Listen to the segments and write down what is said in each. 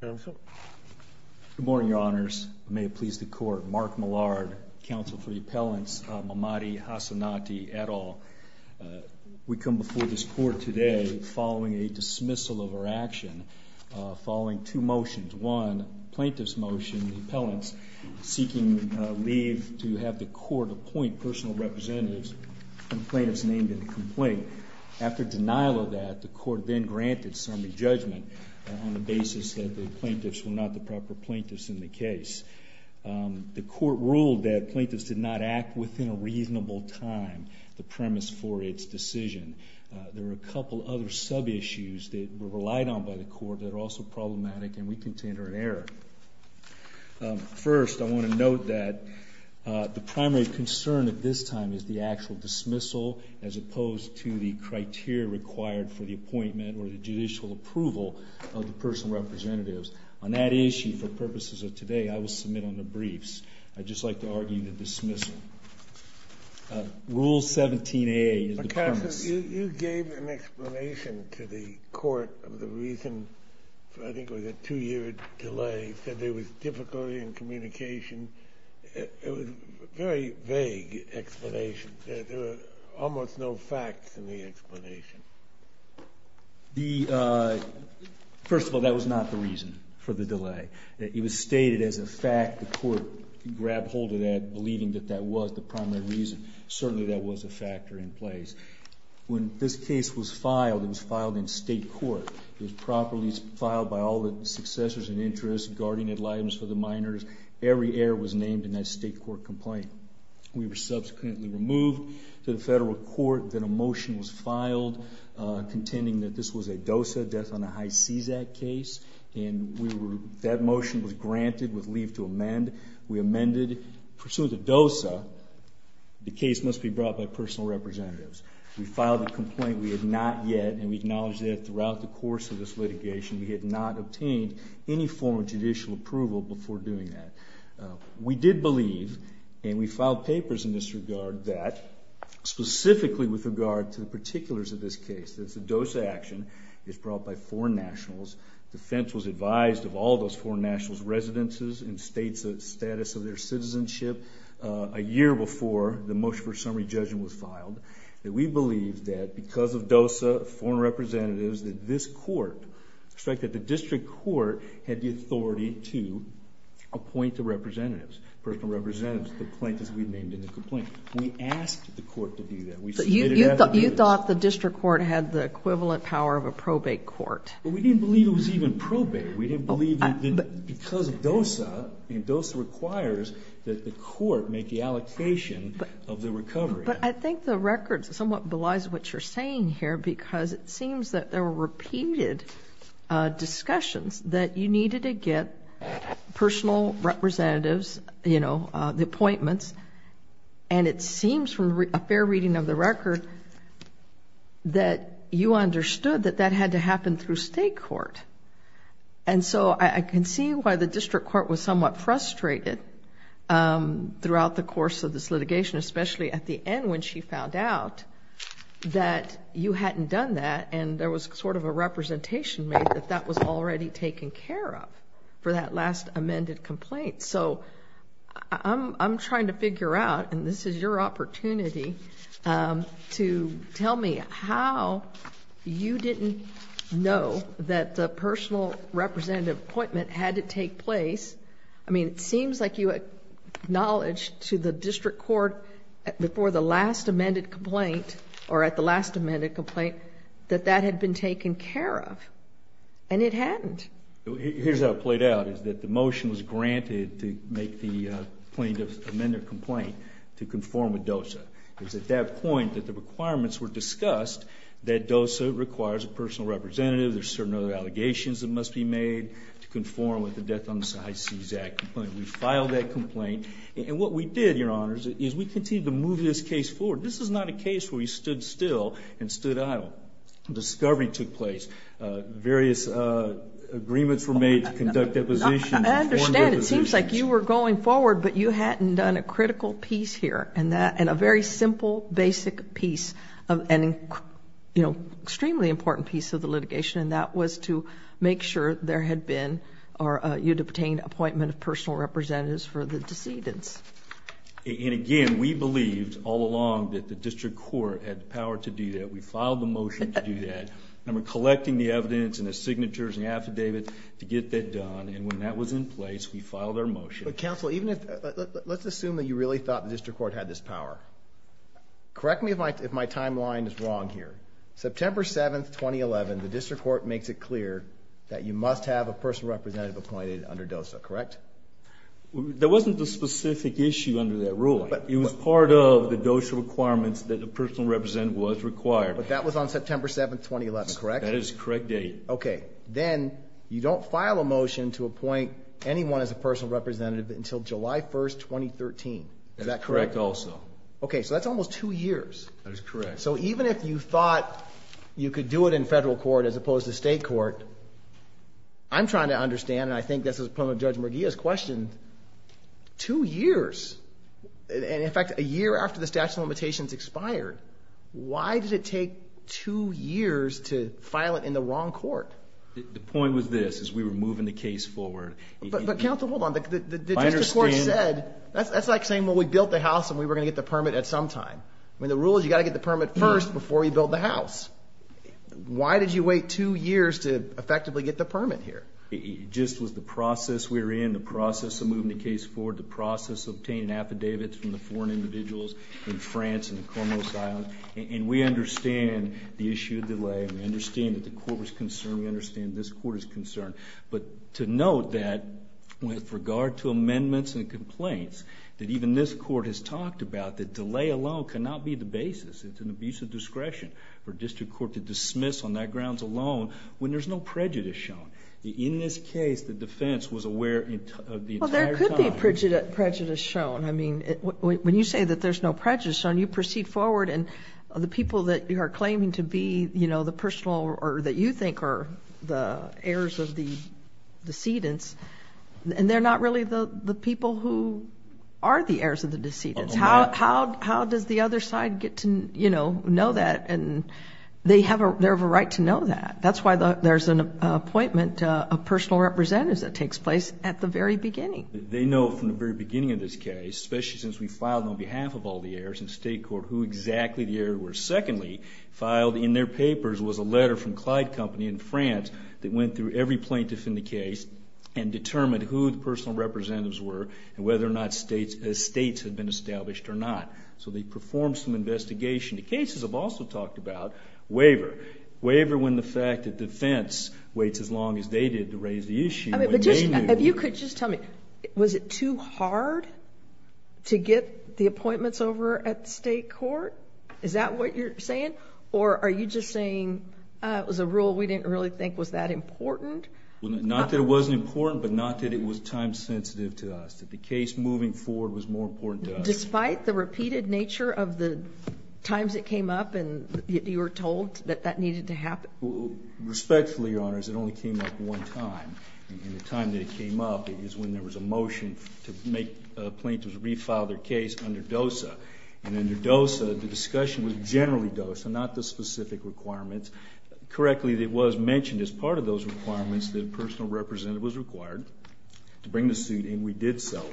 Good morning, Your Honors. May it please the Court, Mark Millard, Counsel for Appellants Mamadi Hassanati, et al. We come before this Court today following a dismissal of our action following two motions. One, plaintiff's motion, the appellants seeking leave to have the Court appoint personal representatives and plaintiffs named in the complaint. After denial of that, the Court then granted summary judgment on the basis that the plaintiffs were not the proper plaintiffs in the case. The Court ruled that plaintiffs did not act within a reasonable time, the premise for its decision. There are a couple other sub-issues that were relied on by the Court that are also problematic and we contend are in error. First, I want is the actual dismissal as opposed to the criteria required for the appointment or the judicial approval of the personal representatives. On that issue, for purposes of today, I will submit on the briefs. I'd just like to argue the dismissal. Rule 17a is the premise. But, Counsel, you gave an explanation to the Court of the reason, I think it was a two-year delay. You said there was difficulty in communication. It was a very vague explanation. There were almost no facts in the explanation. First of all, that was not the reason for the delay. It was stated as a fact. The Court grabbed hold of that, believing that that was the primary reason. Certainly, that was a factor in place. When this case was filed, it was filed in state court. It was properly filed by all the successors and interests guarding the lives of the minors. Every error was named in that state court complaint. We were subsequently removed to the federal court. Then a motion was filed contending that this was a DOSA, Death on a High Seize Act case. That motion was granted with leave to amend. We amended. Pursuant to DOSA, the case must be brought by personal representatives. We filed a complaint. We had not yet, and we acknowledge that throughout the course of this litigation, we had not obtained any form of judicial approval before doing that. We did believe, and we filed papers in this regard, that specifically with regard to the particulars of this case, that the DOSA action is brought by foreign nationals. Defense was advised of all those foreign nationals' residences and status of their citizenship a year before the motion for summary judgment was filed, that we believe that because of DOSA, foreign representatives, that this court, the District Court, had the authority to appoint the representatives, personal representatives, the plaintiffs we named in the complaint. We asked the court to do that. We submitted an affidavit. You thought the District Court had the equivalent power of a probate court? We didn't believe it was even probate. We didn't believe that because of DOSA, and DOSA requires that the court make the allocation of the recovery. But I think the record somewhat belies what you're saying here because it seems that there were repeated discussions that you needed to get personal representatives, you know, the appointments, and it seems from a fair reading of the record that you understood that that had to happen through state court. And so I can see why the District Court was somewhat frustrated throughout the course of this litigation, especially at the end when she found out that you hadn't done that and there was sort of a representation made that that was already taken care of for that last amended complaint. So I'm trying to figure out, and this is your opportunity to tell me how you didn't know that the personal representative appointment had to take place. I mean, it seems like you acknowledged to the District Court before the last amended complaint or at the last amended complaint that that had been taken care of, and it hadn't. Here's how it played out, is that the motion was granted to make the plaintiff's amended complaint to conform with DOSA. It was at that point that the requirements were discussed that DOSA requires a personal representative, there's certain other allegations that must be made to conform with the Death on the Side Seize Act complaint. We filed that complaint. And what we did, Your Honors, is we continued to move this case forward. This is not a case where you stood still and stood idle. Discovery took place. Various agreements were made to conduct depositions. I understand. It seems like you were going forward, but you hadn't done a critical piece here and a very simple, basic piece, an extremely important piece of the litigation, and that was to make sure there had been or you'd obtained an appointment of personal representatives for the decedents. And again, we believed all along that the District Court had the power to do that. We filed the motion to do that. And we're collecting the evidence and the signatures and the affidavits to get that done. And when that was in place, we filed our motion. Counsel, let's assume that you really thought the District Court had this power. Correct me if my timeline is wrong here. September 7, 2011, the District Court makes it clear that you must have a personal representative appointed under DOSA, correct? That wasn't the specific issue under that ruling. It was part of the DOSA requirements that a personal representative was required. But that was on September 7, 2011, correct? That is the correct date. Okay. Then you don't file a motion to appoint anyone as a personal representative until July 1, 2013. Is that correct? That's correct also. Okay, so that's almost two years. That is correct. So even if you thought you could do it in federal court as opposed to state court, I'm trying to understand, and I think this is part of Judge Merguia's question, two years. And in fact, a year after the statute of limitations expired, why did it take two years to file it in the wrong court? The point was this, is we were moving the case forward. But counsel, hold on. The District Court said, that's like saying, well, we built the house and we were going to get the permit at some time. I mean, the rule is you've got to get the permit first before you build the house. Why did you wait two years to effectively get the permit here? It just was the process we were in, the process of moving the case forward, the process of obtaining affidavits from the foreign individuals in France and the Cormos Islands. And we understand the issue of delay. We understand that the court was concerned. We understand this court is concerned. But to note that with regard to amendments and complaints, that even this court has talked about, that delay alone cannot be the basis. It's an abuse of discretion for District Court to dismiss on that grounds alone when there's no prejudice shown. In this case, the defense was aware of the entire time. What do you mean prejudice shown? I mean, when you say that there's no prejudice shown, you proceed forward and the people that you are claiming to be, you know, the personal or that you think are the heirs of the decedents, and they're not really the people who are the heirs of the decedents. How does the other side get to, you know, know that? And they have a right to know that. That's why there's an appointment of personal representatives that takes place at the very beginning. They know from the very beginning of this case, especially since we filed on behalf of all the heirs in state court, who exactly the heir were. Secondly, filed in their papers was a letter from Clyde Company in France that went through every plaintiff in the case and determined who the personal representatives were and whether or not states had been established or not. So they performed some investigation. The cases have also talked about waiver. Waiver when the fact that defense waits as long as they did to raise the issue. If you could just tell me, was it too hard to get the appointments over at state court? Is that what you're saying? Or are you just saying it was a rule we didn't really think was that important? Not that it wasn't important, but not that it was time-sensitive to us, that the case moving forward was more important to us. Despite the repeated nature of the times it came up and you were told that that needed to happen? Respectfully, Your Honors, it only came up one time. And the time that it came up is when there was a motion to make plaintiffs refile their case under DOSA. And under DOSA, the discussion was generally DOSA, not the specific requirements. Correctly, it was mentioned as part of those requirements that a personal representative was required to bring the suit, and we did so.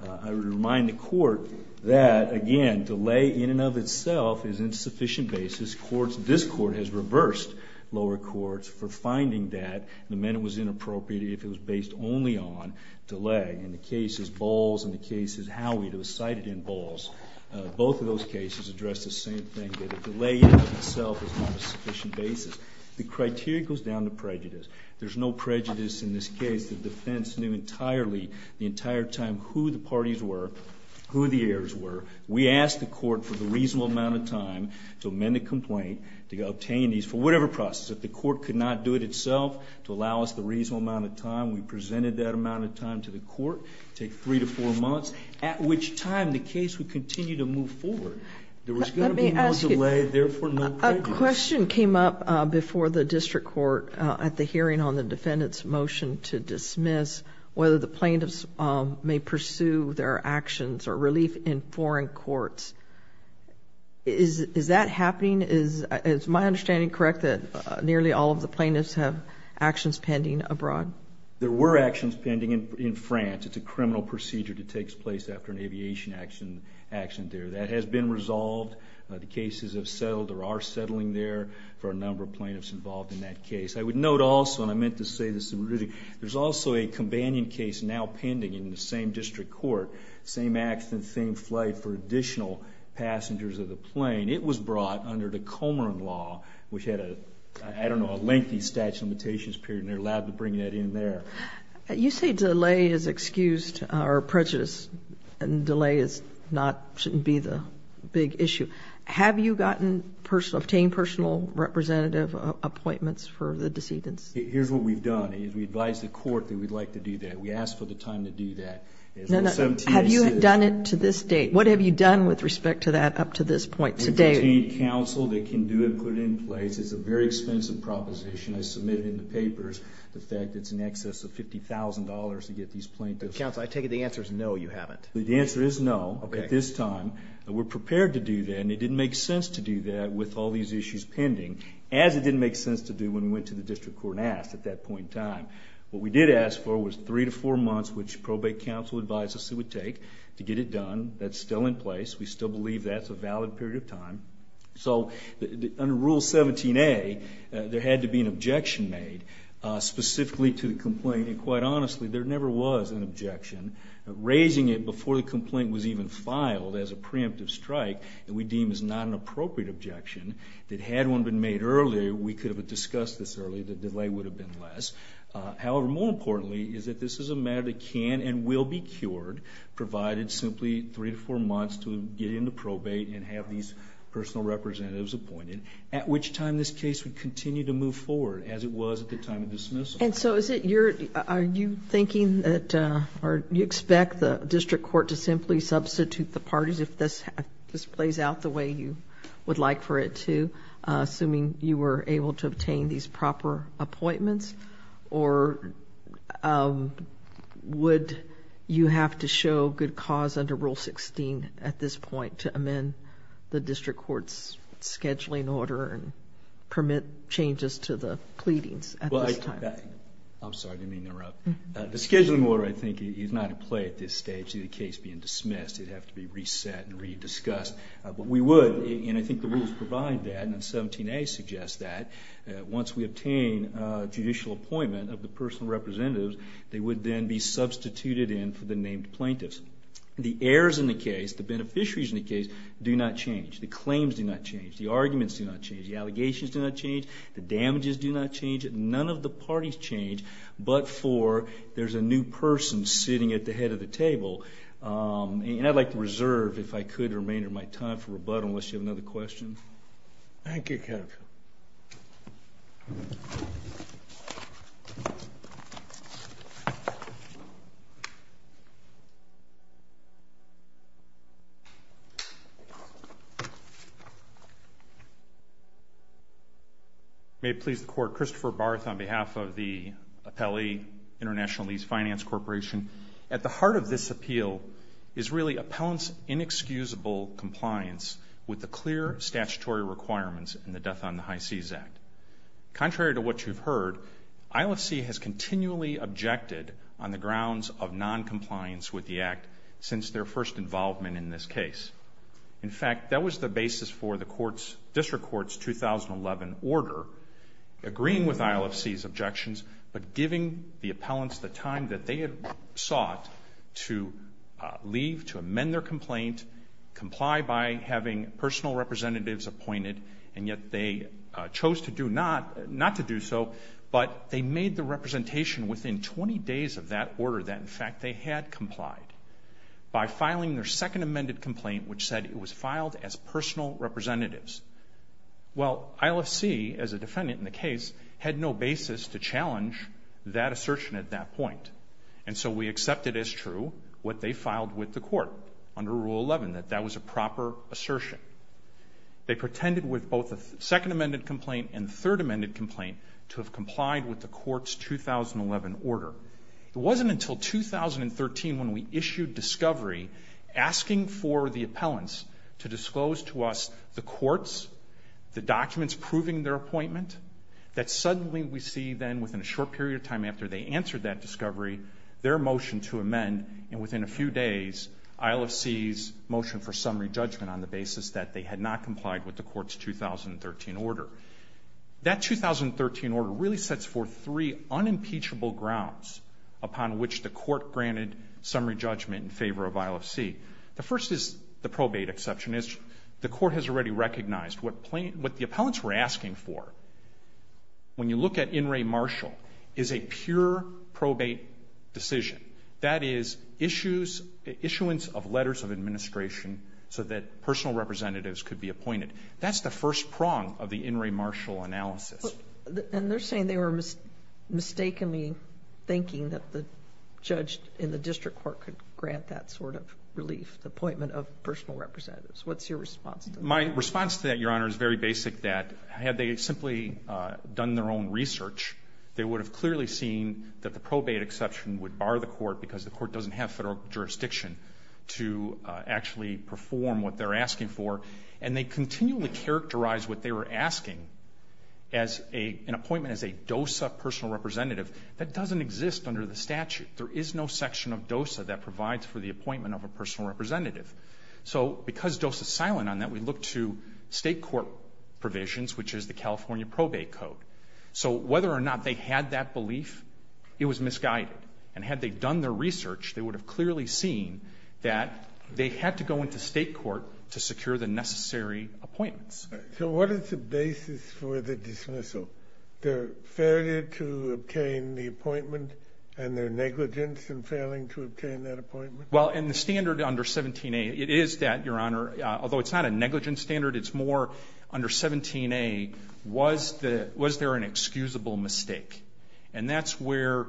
I would remind the court that, again, delay in and of itself is insufficient basis. This court has reversed lower courts for finding that the amendment was inappropriate if it was based only on delay. In the cases Bowles and the cases Howey, it was cited in Bowles. Both of those cases addressed the same thing, that delay in and of itself is not a sufficient basis. The criteria goes down to prejudice. There's no prejudice in this case. The defense knew entirely the entire time who the parties were, who the heirs were. We asked the court for the reasonable amount of time to amend the complaint, to obtain these, for whatever process. If the court could not do it itself to allow us the reasonable amount of time, we presented that amount of time to the court, take three to four months, at which time the case would continue to move forward. There was going to be no delay, therefore, no prejudice. A question came up before the district court at the hearing on the defendant's motion to dismiss whether the plaintiffs may pursue their actions or relief in foreign courts. Is that happening? Is my understanding correct that nearly all of the plaintiffs have actions pending abroad? There were actions pending in France. It's a criminal procedure that takes place after an aviation action there. That has been resolved. The cases have settled or are settling there for a number of plaintiffs involved in that case. I would note also, and I meant to say this, there's also a companion case now pending in the same district court, same accident, same flight for additional passengers of the plane. It was brought under the Comeron law, which had a, I don't know, a lengthy statute of limitations period, and they're allowed to bring that in there. You say delay is excused or prejudice and delay is not, shouldn't be the big issue. Have you gotten personal, obtained personal representative appointments for the decedents? Here's what we've done is we advised the court that we'd like to do that. We asked for the time to do that. Have you done it to this date? What have you done with respect to that up to this point today? We've obtained counsel that can do it, put it in place. It's a very expensive proposition. I submitted in the papers the fact that it's in excess of $50,000 to get these plaintiffs. Counsel, I take it the answer is no, you haven't. The answer is no at this time. We're prepared to do that, and it didn't make sense to do that with all these issues pending, as it didn't make sense to do when we went to the district court and asked at that point in time. What we did ask for was three to four months, which probate counsel advised us it would take to get it done. That's still in place. We still believe that's a valid period of time. So under Rule 17A, there had to be an objection made specifically to the complaint, and quite honestly, there never was an objection. Raising it before the complaint was even filed as a preemptive strike that we deem is not an appropriate objection, that had one been made earlier, we could have discussed this earlier, the delay would have been less. However, more importantly, is that this is a matter that can and will be cured, provided simply three to four months to get into probate and have these personal representatives appointed, at which time this case would continue to move forward, as it was at the time of dismissal. And so is it your, are you thinking that, or do you expect the district court to simply substitute the parties, if this plays out the way you would like for it to, assuming you were able to obtain these proper appointments? Or would you have to show good cause under Rule 16 at this point to amend the district court's scheduling order and permit changes to the pleadings at this time? Well, I'm sorry to interrupt. The scheduling order, I think, is not at play at this stage, the case being dismissed. It would have to be reset and re-discussed. But we would, and I think the rules provide that, and 17A suggests that. Once we obtain a judicial appointment of the personal representatives, they would then be substituted in for the named plaintiffs. The errors in the case, the beneficiaries in the case, do not change. The claims do not change. The arguments do not change. The allegations do not change. The damages do not change. None of the parties change but for there's a new person sitting at the head of the table. And I'd like to reserve, if I could, or may, or might, time for rebuttal unless you have another question. Thank you, Kevin. May it please the Court. Christopher Barth on behalf of the Appellee International Lease Finance Corporation. At the heart of this appeal is really appellants' inexcusable compliance with the clear statutory requirements in the Death on the High Seas Act. Contrary to what you've heard, ILFC has continually objected on the grounds of noncompliance with the Act since their first involvement in this case. In fact, that was the basis for the District Court's 2011 order, agreeing with ILFC's objections but giving the appellants the time that they had sought to leave, to amend their complaint, comply by having personal representatives appointed, and yet they chose not to do so but they made the representation within 20 days of that order that, in fact, they had complied by filing their second amended complaint which said it was filed as personal representatives. Well, ILFC, as a defendant in the case, had no basis to challenge that assertion at that point, and so we accepted as true what they filed with the Court under Rule 11, that that was a proper assertion. They pretended with both the second amended complaint and third amended complaint to have complied with the Court's 2011 order. It wasn't until 2013 when we issued discovery asking for the appellants to disclose to us the courts, the documents proving their appointment, that suddenly we see then, within a short period of time after they answered that discovery, their motion to amend, and within a few days, ILFC's motion for summary judgment on the basis that they had not complied with the Court's 2013 order. That 2013 order really sets forth three unimpeachable grounds upon which the Court granted summary judgment in favor of ILFC. The first is the probate exception. The Court has already recognized what the appellants were asking for. When you look at in re martial, it's a pure probate decision. That is issuance of letters of administration so that personal representatives could be appointed. That's the first prong of the in re martial analysis. And they're saying they were mistakenly thinking that the judge in the district court could grant that sort of relief, the appointment of personal representatives. What's your response to that? My response to that, Your Honor, is very basic. That had they simply done their own research, they would have clearly seen that the probate exception would bar the Court because the Court doesn't have federal jurisdiction to actually perform what they're asking for. And they continually characterized what they were asking as an appointment as a DOSA personal representative. That doesn't exist under the statute. There is no section of DOSA that provides for the appointment of a personal representative. So because DOSA is silent on that, we look to state court provisions, which is the California Probate Code. So whether or not they had that belief, it was misguided. And had they done their research, they would have clearly seen that they had to go into state court to secure the necessary appointments. So what is the basis for the dismissal? Their failure to obtain the appointment and their negligence in failing to obtain that appointment? Well, in the standard under 17a, it is that, Your Honor, although it's not a negligence standard, it's more under 17a, was there an excusable mistake? And that's where,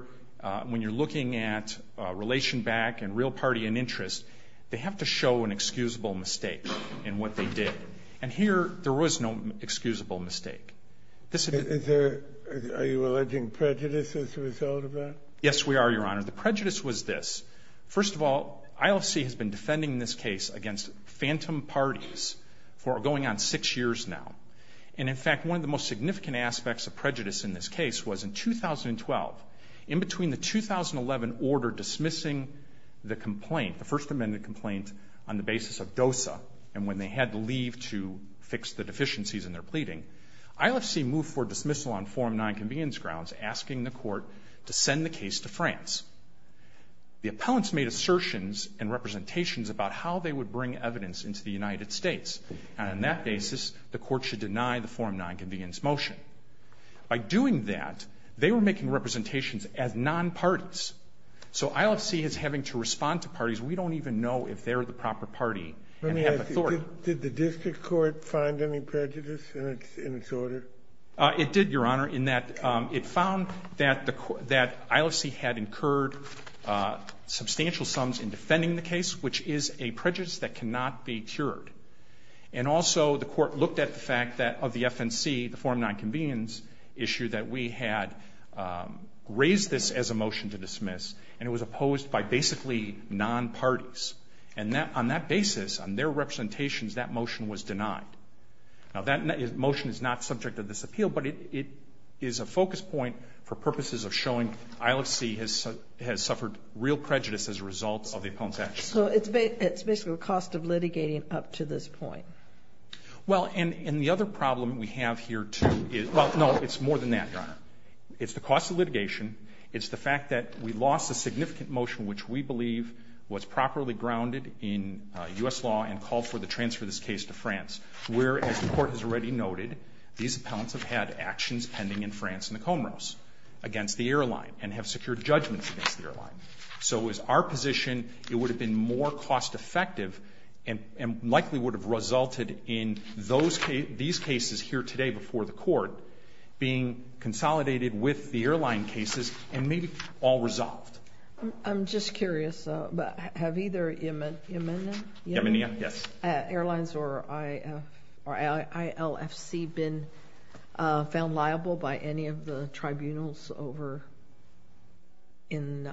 when you're looking at relation back and real party and interest, they have to show an excusable mistake in what they did. And here there was no excusable mistake. Are you alleging prejudice as a result of that? Yes, we are, Your Honor. The prejudice was this. First of all, ILC has been defending this case against phantom parties for going on six years now. And, in fact, one of the most significant aspects of prejudice in this case was in 2012, in between the 2011 order dismissing the complaint, the First Amendment complaint on the basis of DOSA, and when they had to leave to fix the deficiencies in their pleading, ILC moved for dismissal on forum nonconvenience grounds, asking the court to send the case to France. The appellants made assertions and representations about how they would bring evidence into the United States. And on that basis, the court should deny the forum nonconvenience motion. By doing that, they were making representations as nonparties. So ILC is having to respond to parties we don't even know if they're the proper party and have authority. Did the district court find any prejudice in its order? It did, Your Honor, in that it found that ILC had incurred substantial sums in defending the case, which is a prejudice that cannot be cured. And also the court looked at the fact that of the FNC, the forum nonconvenience issue, that we had raised this as a motion to dismiss, and it was opposed by basically nonparties. And on that basis, on their representations, that motion was denied. Now, that motion is not subject to this appeal, but it is a focus point for purposes of showing ILC has suffered real prejudice as a result of the appellant's actions. So it's basically a cost of litigating up to this point. Well, and the other problem we have here, too, is – well, no, it's more than that, Your Honor. It's the cost of litigation. It's the fact that we lost a significant motion, which we believe was properly grounded in U.S. law and called for the transfer of this case to France, where, as the Court has already noted, these appellants have had actions pending in France in the Comoros against the airline and have secured judgments against the airline. So it was our position it would have been more cost-effective and likely would have resulted in these cases here today before the Court being consolidated with the airline cases and maybe all resolved. I'm just curious. Have either Yemenia Airlines or ILFC been found liable by any of the tribunals over in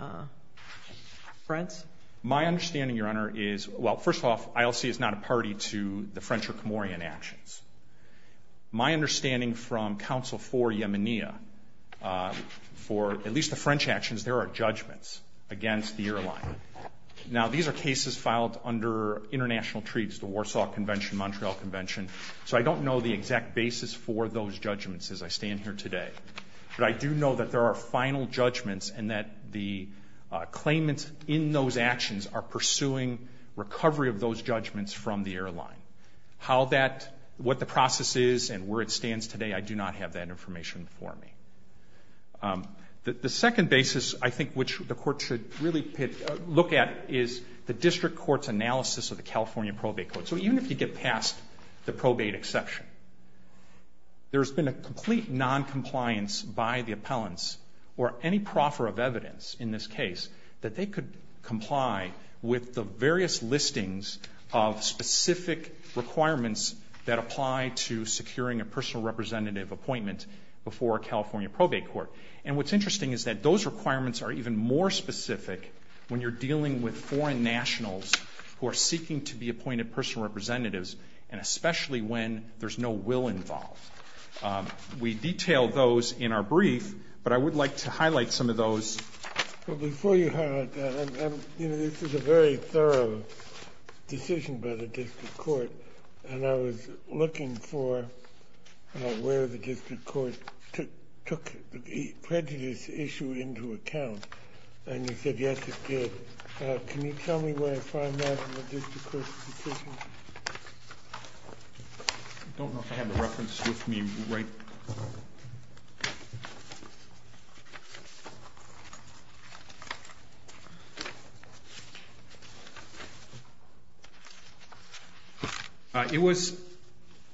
France? My understanding, Your Honor, is – well, first off, ILC is not a party to the French or Comorian actions. My understanding from counsel for Yemenia, for at least the French actions, is there are judgments against the airline. Now, these are cases filed under international treats, the Warsaw Convention, Montreal Convention, so I don't know the exact basis for those judgments as I stand here today. But I do know that there are final judgments and that the claimants in those actions are pursuing recovery of those judgments from the airline. How that – what the process is and where it stands today, I do not have that information before me. The second basis I think which the Court should really look at is the district court's analysis of the California Probate Code. So even if you get past the probate exception, there's been a complete noncompliance by the appellants or any proffer of evidence in this case that they could comply with the various listings of specific requirements that apply to securing a personal representative appointment before a California probate court. And what's interesting is that those requirements are even more specific when you're dealing with foreign nationals who are seeking to be appointed personal representatives and especially when there's no will involved. We detail those in our brief, but I would like to highlight some of those. Well, before you highlight that, this is a very thorough decision by the district court, and I was looking for where the district court took prejudice issue into account, and you said, yes, it did. Can you tell me where I find that in the district court's decision? I don't know if I have the reference with me right. It was,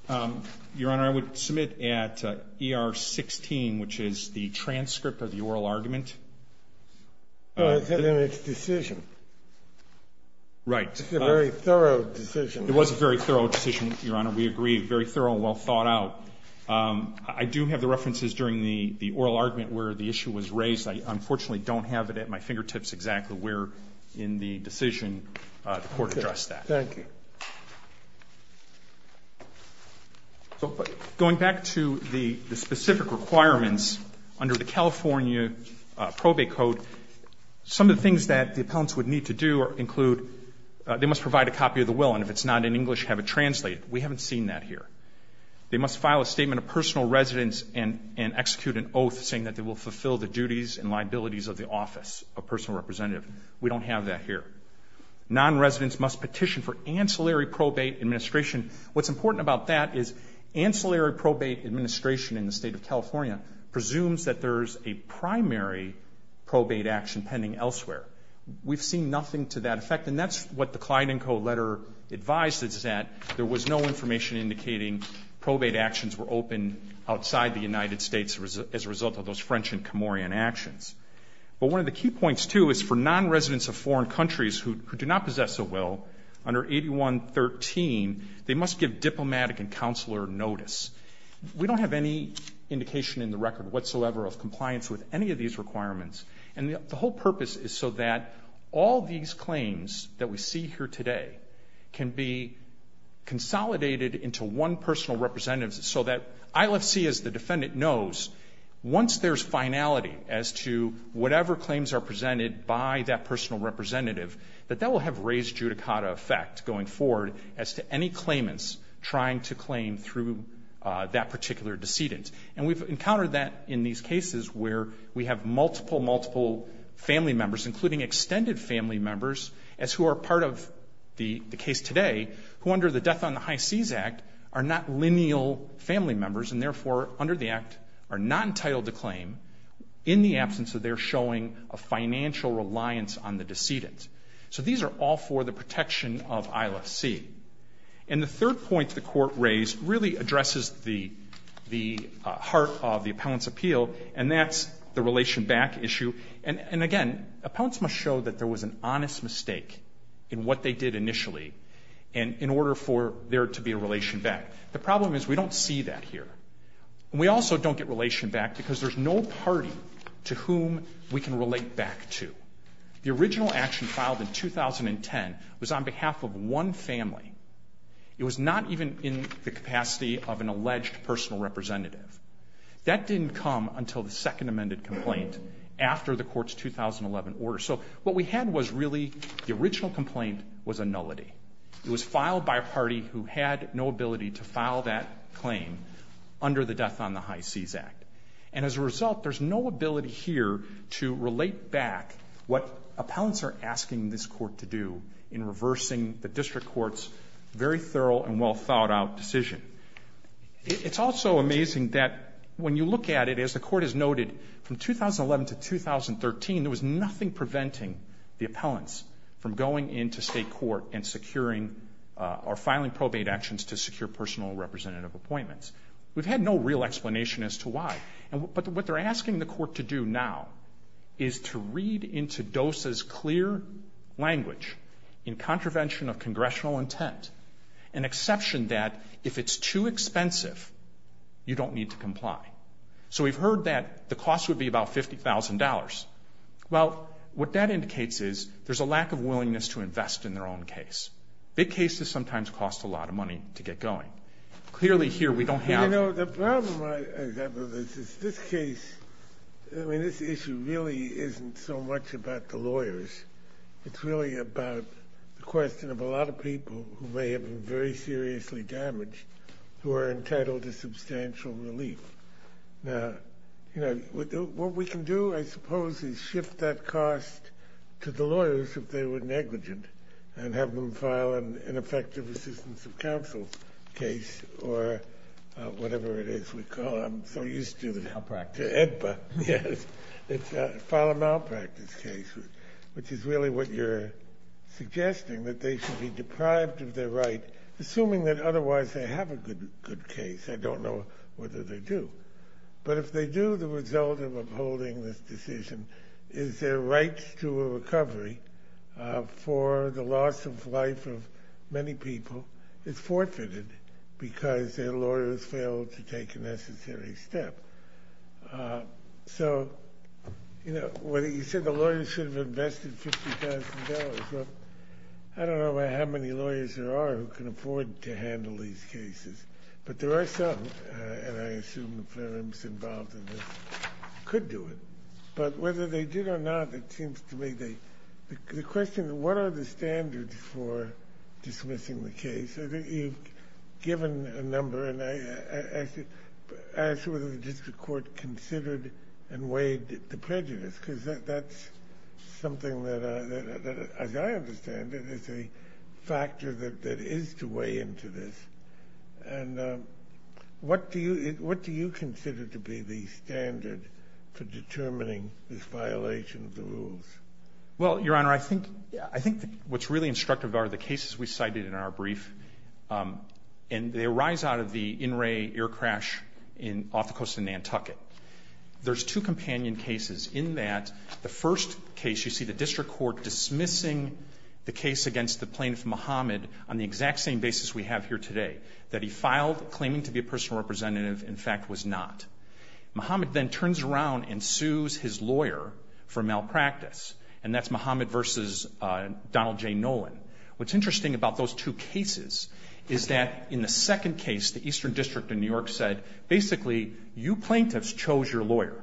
Your Honor, I would submit at ER 16, which is the transcript of the oral argument. It's in its decision. Right. It's a very thorough decision. It was a very thorough decision, Your Honor. We agree, very thorough and well thought out. I do have the references during the oral argument where the issue was raised. I unfortunately don't have it at my fingertips exactly where in the decision the court addressed that. Thank you. Going back to the specific requirements under the California probate code, some of the things that the appellants would need to do include they must provide a copy of the document. If it's not in English, have it translated. We haven't seen that here. They must file a statement of personal residence and execute an oath saying that they will fulfill the duties and liabilities of the office of personal representative. We don't have that here. Non-residents must petition for ancillary probate administration. What's important about that is ancillary probate administration in the state of California presumes that there's a primary probate action pending elsewhere. We've seen nothing to that effect. And that's what the Clyde & Co. letter advises that there was no information indicating probate actions were open outside the United States as a result of those French and Camorian actions. But one of the key points, too, is for non-residents of foreign countries who do not possess a will under 8113, they must give diplomatic and counselor notice. We don't have any indication in the record whatsoever of compliance with any of these requirements. And the whole purpose is so that all these claims that we see here today can be consolidated into one personal representative so that ILFC, as the defendant knows, once there's finality as to whatever claims are presented by that personal representative, that that will have raised judicata effect going forward as to any claimants trying to claim through that particular decedent. And we've encountered that in these cases where we have multiple, multiple family members, including extended family members, as who are part of the case today, who under the Death on the High Seas Act are not lineal family members and, therefore, under the Act are not entitled to claim in the absence of their showing a financial reliance on the decedent. So these are all for the protection of ILFC. And the third point the Court raised really addresses the heart of the appellant's appeal, and that's the relation back issue. And, again, appellants must show that there was an honest mistake in what they did initially in order for there to be a relation back. The problem is we don't see that here. And we also don't get relation back because there's no party to whom we can relate back to. The original action filed in 2010 was on behalf of one family. It was not even in the capacity of an alleged personal representative. That didn't come until the second amended complaint after the Court's 2011 order. So what we had was really the original complaint was a nullity. It was filed by a party who had no ability to file that claim under the Death on the High Seas Act. And, as a result, there's no ability here to relate back what appellants are asking this Court to do in reversing the district court's very thorough and well-thought-out decision. It's also amazing that when you look at it, as the Court has noted, from 2011 to 2013 there was nothing preventing the appellants from going into state court and securing or filing probate actions to secure personal representative appointments. We've had no real explanation as to why. But what they're asking the Court to do now is to read into DOSA's clear language in contravention of congressional intent an exception that, if it's too expensive, you don't need to comply. So we've heard that the cost would be about $50,000. Well, what that indicates is there's a lack of willingness to invest in their own case. Big cases sometimes cost a lot of money to get going. Clearly, here, we don't have... You know, the problem I have with this is this case, I mean, this issue really isn't so much about the lawyers. It's really about the question of a lot of people who may have been very seriously damaged who are entitled to substantial relief. Now, you know, what we can do, I suppose, is shift that cost to the lawyers if they were negligent and have them file an ineffective assistance of counsel case or whatever it is we call it. I'm so used to the... Malpractice. ...EDPA. Yes. It's a file a malpractice case, which is really what you're suggesting, that they should be deprived of their right, assuming that otherwise they have a good case. I don't know whether they do. But if they do, the result of upholding this decision is their right to a recovery for the loss of life of many people is forfeited because their lawyers failed to take a necessary step. So, you know, whether you said the lawyers should have invested $50,000, well, I don't know how many lawyers there are who can afford to handle these cases. But there are some, and I assume the firms involved in this could do it. But whether they did or not, it seems to me the question, what are the standards for dismissing the case? I think you've given a number, and I should ask whether the district court considered and weighed the prejudice because that's something that, as I understand it, is a factor that And what do you consider to be the standard for determining this violation of the rules? Well, Your Honor, I think what's really instructive are the cases we cited in our brief. And they arise out of the in-ray air crash off the coast of Nantucket. There's two companion cases in that. The first case, you see the district court dismissing the case against the plaintiff Mohamed on the exact same basis we have here today, that he filed claiming to be a personal representative, in fact was not. Mohamed then turns around and sues his lawyer for malpractice. And that's Mohamed versus Donald J. Nolan. What's interesting about those two cases is that in the second case, the Eastern District of New York said, basically, you plaintiffs chose your lawyer.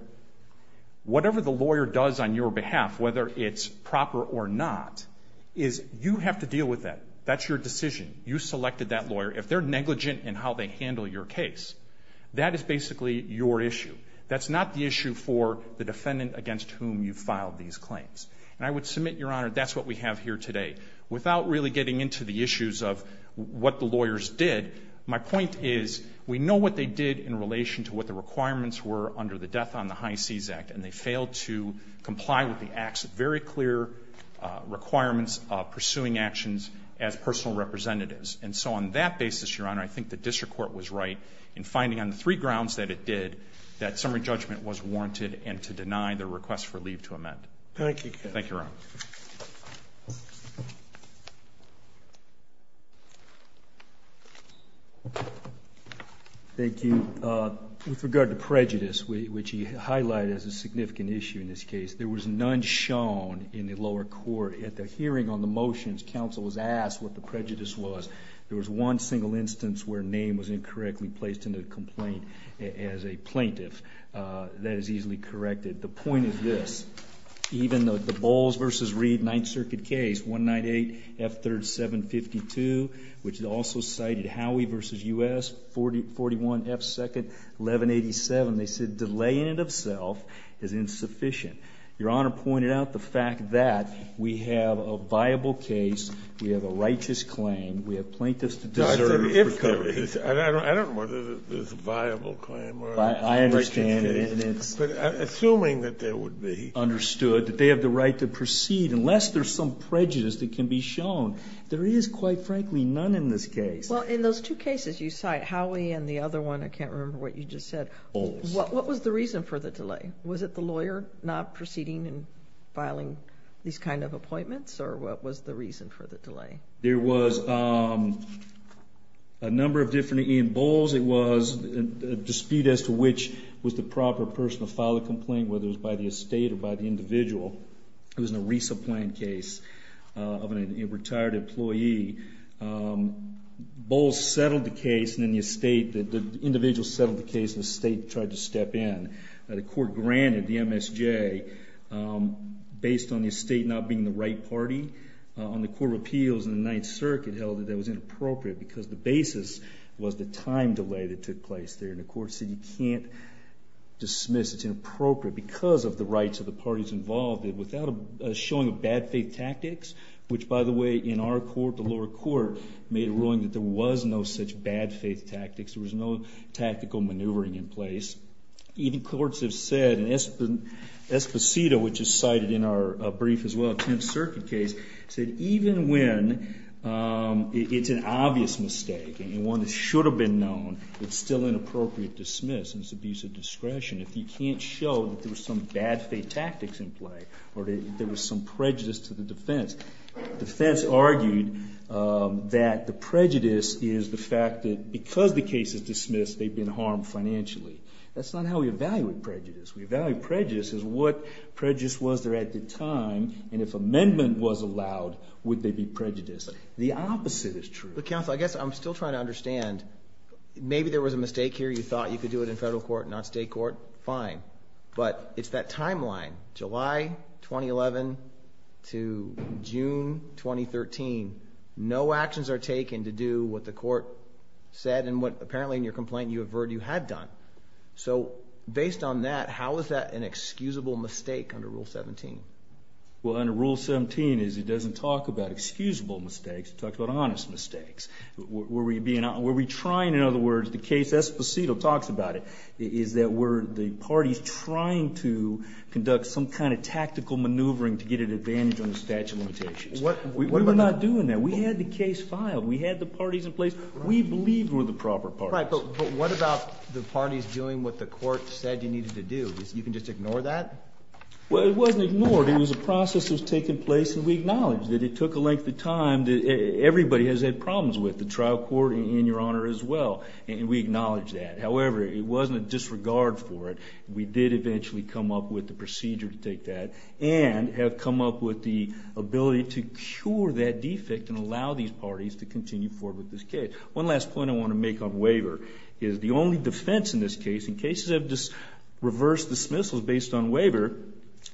Whatever the lawyer does on your behalf, whether it's proper or not, is you have to deal with that. That's your decision. You selected that lawyer. If they're negligent in how they handle your case, that is basically your issue. That's not the issue for the defendant against whom you filed these claims. And I would submit, Your Honor, that's what we have here today. Without really getting into the issues of what the lawyers did, my point is we know what they did in relation to what the requirements were under the Death on the High Seas Act. And they failed to comply with the very clear requirements of pursuing actions as personal representatives. And so on that basis, Your Honor, I think the district court was right in finding on the three grounds that it did, that summary judgment was warranted and to deny the request for leave to amend. Thank you. Thank you, Your Honor. Thank you. With regard to prejudice, which he highlighted as a significant issue in this case, there was none shown in the lower court. At the hearing on the motions, counsel was asked what the prejudice was. There was one single instance where a name was incorrectly placed in the complaint as a plaintiff. That is easily corrected. The point is this. Even though the Bowles v. Reed Ninth Circuit case, 198F3752, which also cited Howey v. U.S., 41F2nd 1187, they said delaying it of self is insufficient. Your Honor pointed out the fact that we have a viable case, we have a righteous claim, we have plaintiffs to deserve recovery. I don't know whether it's a viable claim or a righteous claim. I understand. But assuming that there would be. Understood. That they have the right to proceed unless there's some prejudice that can be shown. There is, quite frankly, none in this case. Well, in those two cases you cite, Howey and the other one, I can't remember what you just said. Bowles. What was the reason for the delay? Was it the lawyer not proceeding and filing these kind of appointments? Or what was the reason for the delay? There was a number of different. In Bowles, it was a dispute as to which was the proper person to file the complaint, whether it was by the estate or by the individual. It was a resupplant case of a retired employee. Bowles settled the case, and then the individual settled the case, and the estate tried to step in. The court granted the MSJ based on the estate not being the right party. On the Court of Appeals in the Ninth Circuit held that that was inappropriate because the basis was the time delay that took place there. And the court said you can't dismiss it's inappropriate because of the rights of the parties involved without a showing of bad faith tactics, which, by the way, in our court, the lower court, made a ruling that there was no such bad faith tactics. There was no tactical maneuvering in place. Even courts have said, and Esposito, which is cited in our brief as well, Ninth Circuit case, said even when it's an obvious mistake and one that should have been known, it's still inappropriate to dismiss. It's abuse of discretion. If you can't show that there was some bad faith tactics in play or there was some prejudice to the defense. Defense argued that the prejudice is the fact that because the case is dismissed, they've been harmed financially. That's not how we evaluate prejudice. We evaluate prejudice as what prejudice was there at the time, and if amendment was allowed, would they be prejudiced? The opposite is true. But, counsel, I guess I'm still trying to understand. Maybe there was a mistake here. You thought you could do it in federal court and not state court. Fine. But it's that timeline, July 2011 to June 2013. No actions are taken to do what the court said and what apparently in your complaint you averted you had done. So based on that, how is that an excusable mistake under Rule 17? Well, under Rule 17 it doesn't talk about excusable mistakes. It talks about honest mistakes. Were we trying, in other words, the case Esposito talks about it, is that we're the parties trying to conduct some kind of tactical maneuvering to get an advantage on the statute of limitations. We were not doing that. We had the case filed. We had the parties in place. We believed we were the proper parties. Right, but what about the parties doing what the court said you needed to do? You can just ignore that? Well, it wasn't ignored. It was a process that was taking place, and we acknowledge that it took a length of time. Everybody has had problems with it, the trial court and your Honor as well, and we acknowledge that. However, it wasn't a disregard for it. We did eventually come up with the procedure to take that and have come up with the ability to cure that defect and allow these parties to continue forward with this case. One last point I want to make on waiver is the only defense in this case, in cases of reverse dismissals based on waiver,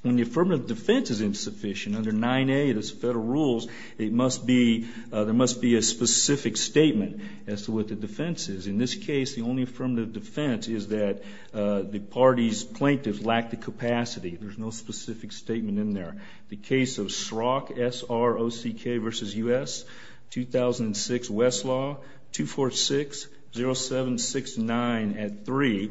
when the affirmative defense is insufficient under 9A of the federal rules, there must be a specific statement as to what the defense is. In this case, the only affirmative defense is that the parties plaintiff lacked the capacity. There's no specific statement in there. The case of SROCK, S-R-O-C-K versus U.S., 2006 Westlaw, 2460769 at 3,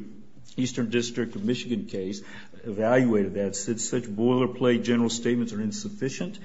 Eastern District of Michigan case, evaluated that. Since such boilerplate general statements are insufficient,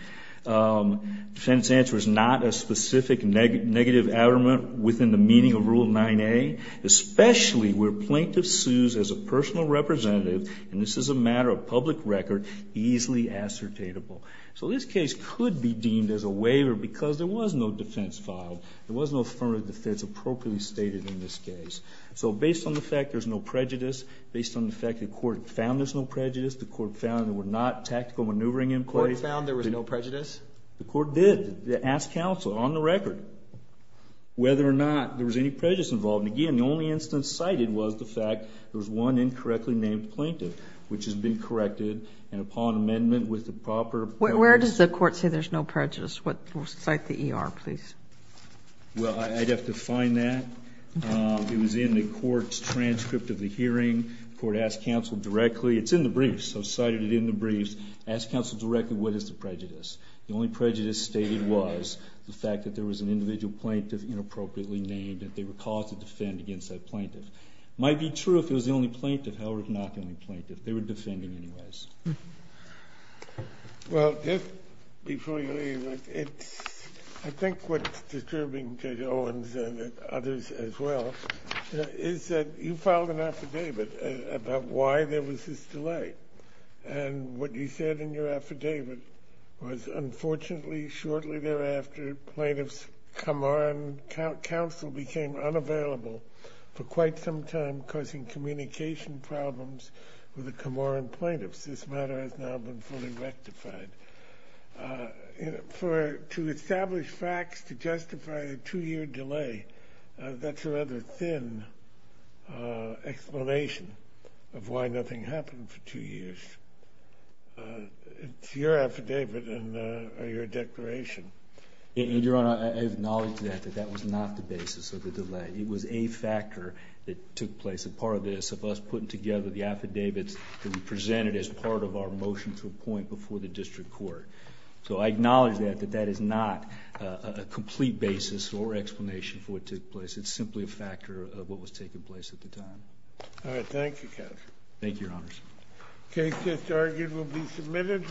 defense answer is not a specific negative element within the meaning of Rule 9A, especially where plaintiff sues as a personal representative, and this is a matter of public record, easily ascertainable. So this case could be deemed as a waiver because there was no defense filed. There was no affirmative defense appropriately stated in this case. So based on the fact there's no prejudice, based on the fact the court found there's no prejudice, the court found there were not tactical maneuvering in place. The court found there was no prejudice? The court did. They asked counsel on the record whether or not there was any prejudice involved. And, again, the only instance cited was the fact there was one incorrectly named plaintiff, which has been corrected. And upon amendment with the proper purpose. Where does the court say there's no prejudice? Cite the ER, please. Well, I'd have to find that. It was in the court's transcript of the hearing. The court asked counsel directly. It's in the briefs. I've cited it in the briefs. Asked counsel directly what is the prejudice. The only prejudice stated was the fact that there was an individual plaintiff inappropriately named, that they were called to defend against that plaintiff. It might be true if it was the only plaintiff, however, it's not the only plaintiff. They were defending anyways. Well, just before you leave, I think what's disturbing to Owens and others as well, is that you filed an affidavit about why there was this delay. And what you said in your affidavit was, unfortunately, shortly thereafter, plaintiff's Camorran counsel became unavailable for quite some time, causing communication problems with the Camorran plaintiffs. This matter has now been fully rectified. To establish facts to justify a two-year delay, that's a rather thin explanation of why nothing happened for two years. It's your affidavit or your declaration. Your Honor, I acknowledge that. That was not the basis of the delay. It was a factor that took place, a part of this, of us putting together the affidavits that we presented as part of our motion to appoint before the district court. So I acknowledge that, that that is not a complete basis or explanation for what took place. It's simply a factor of what was taking place at the time. All right, thank you, counsel. Thank you, Your Honors. The case that's argued will be submitted.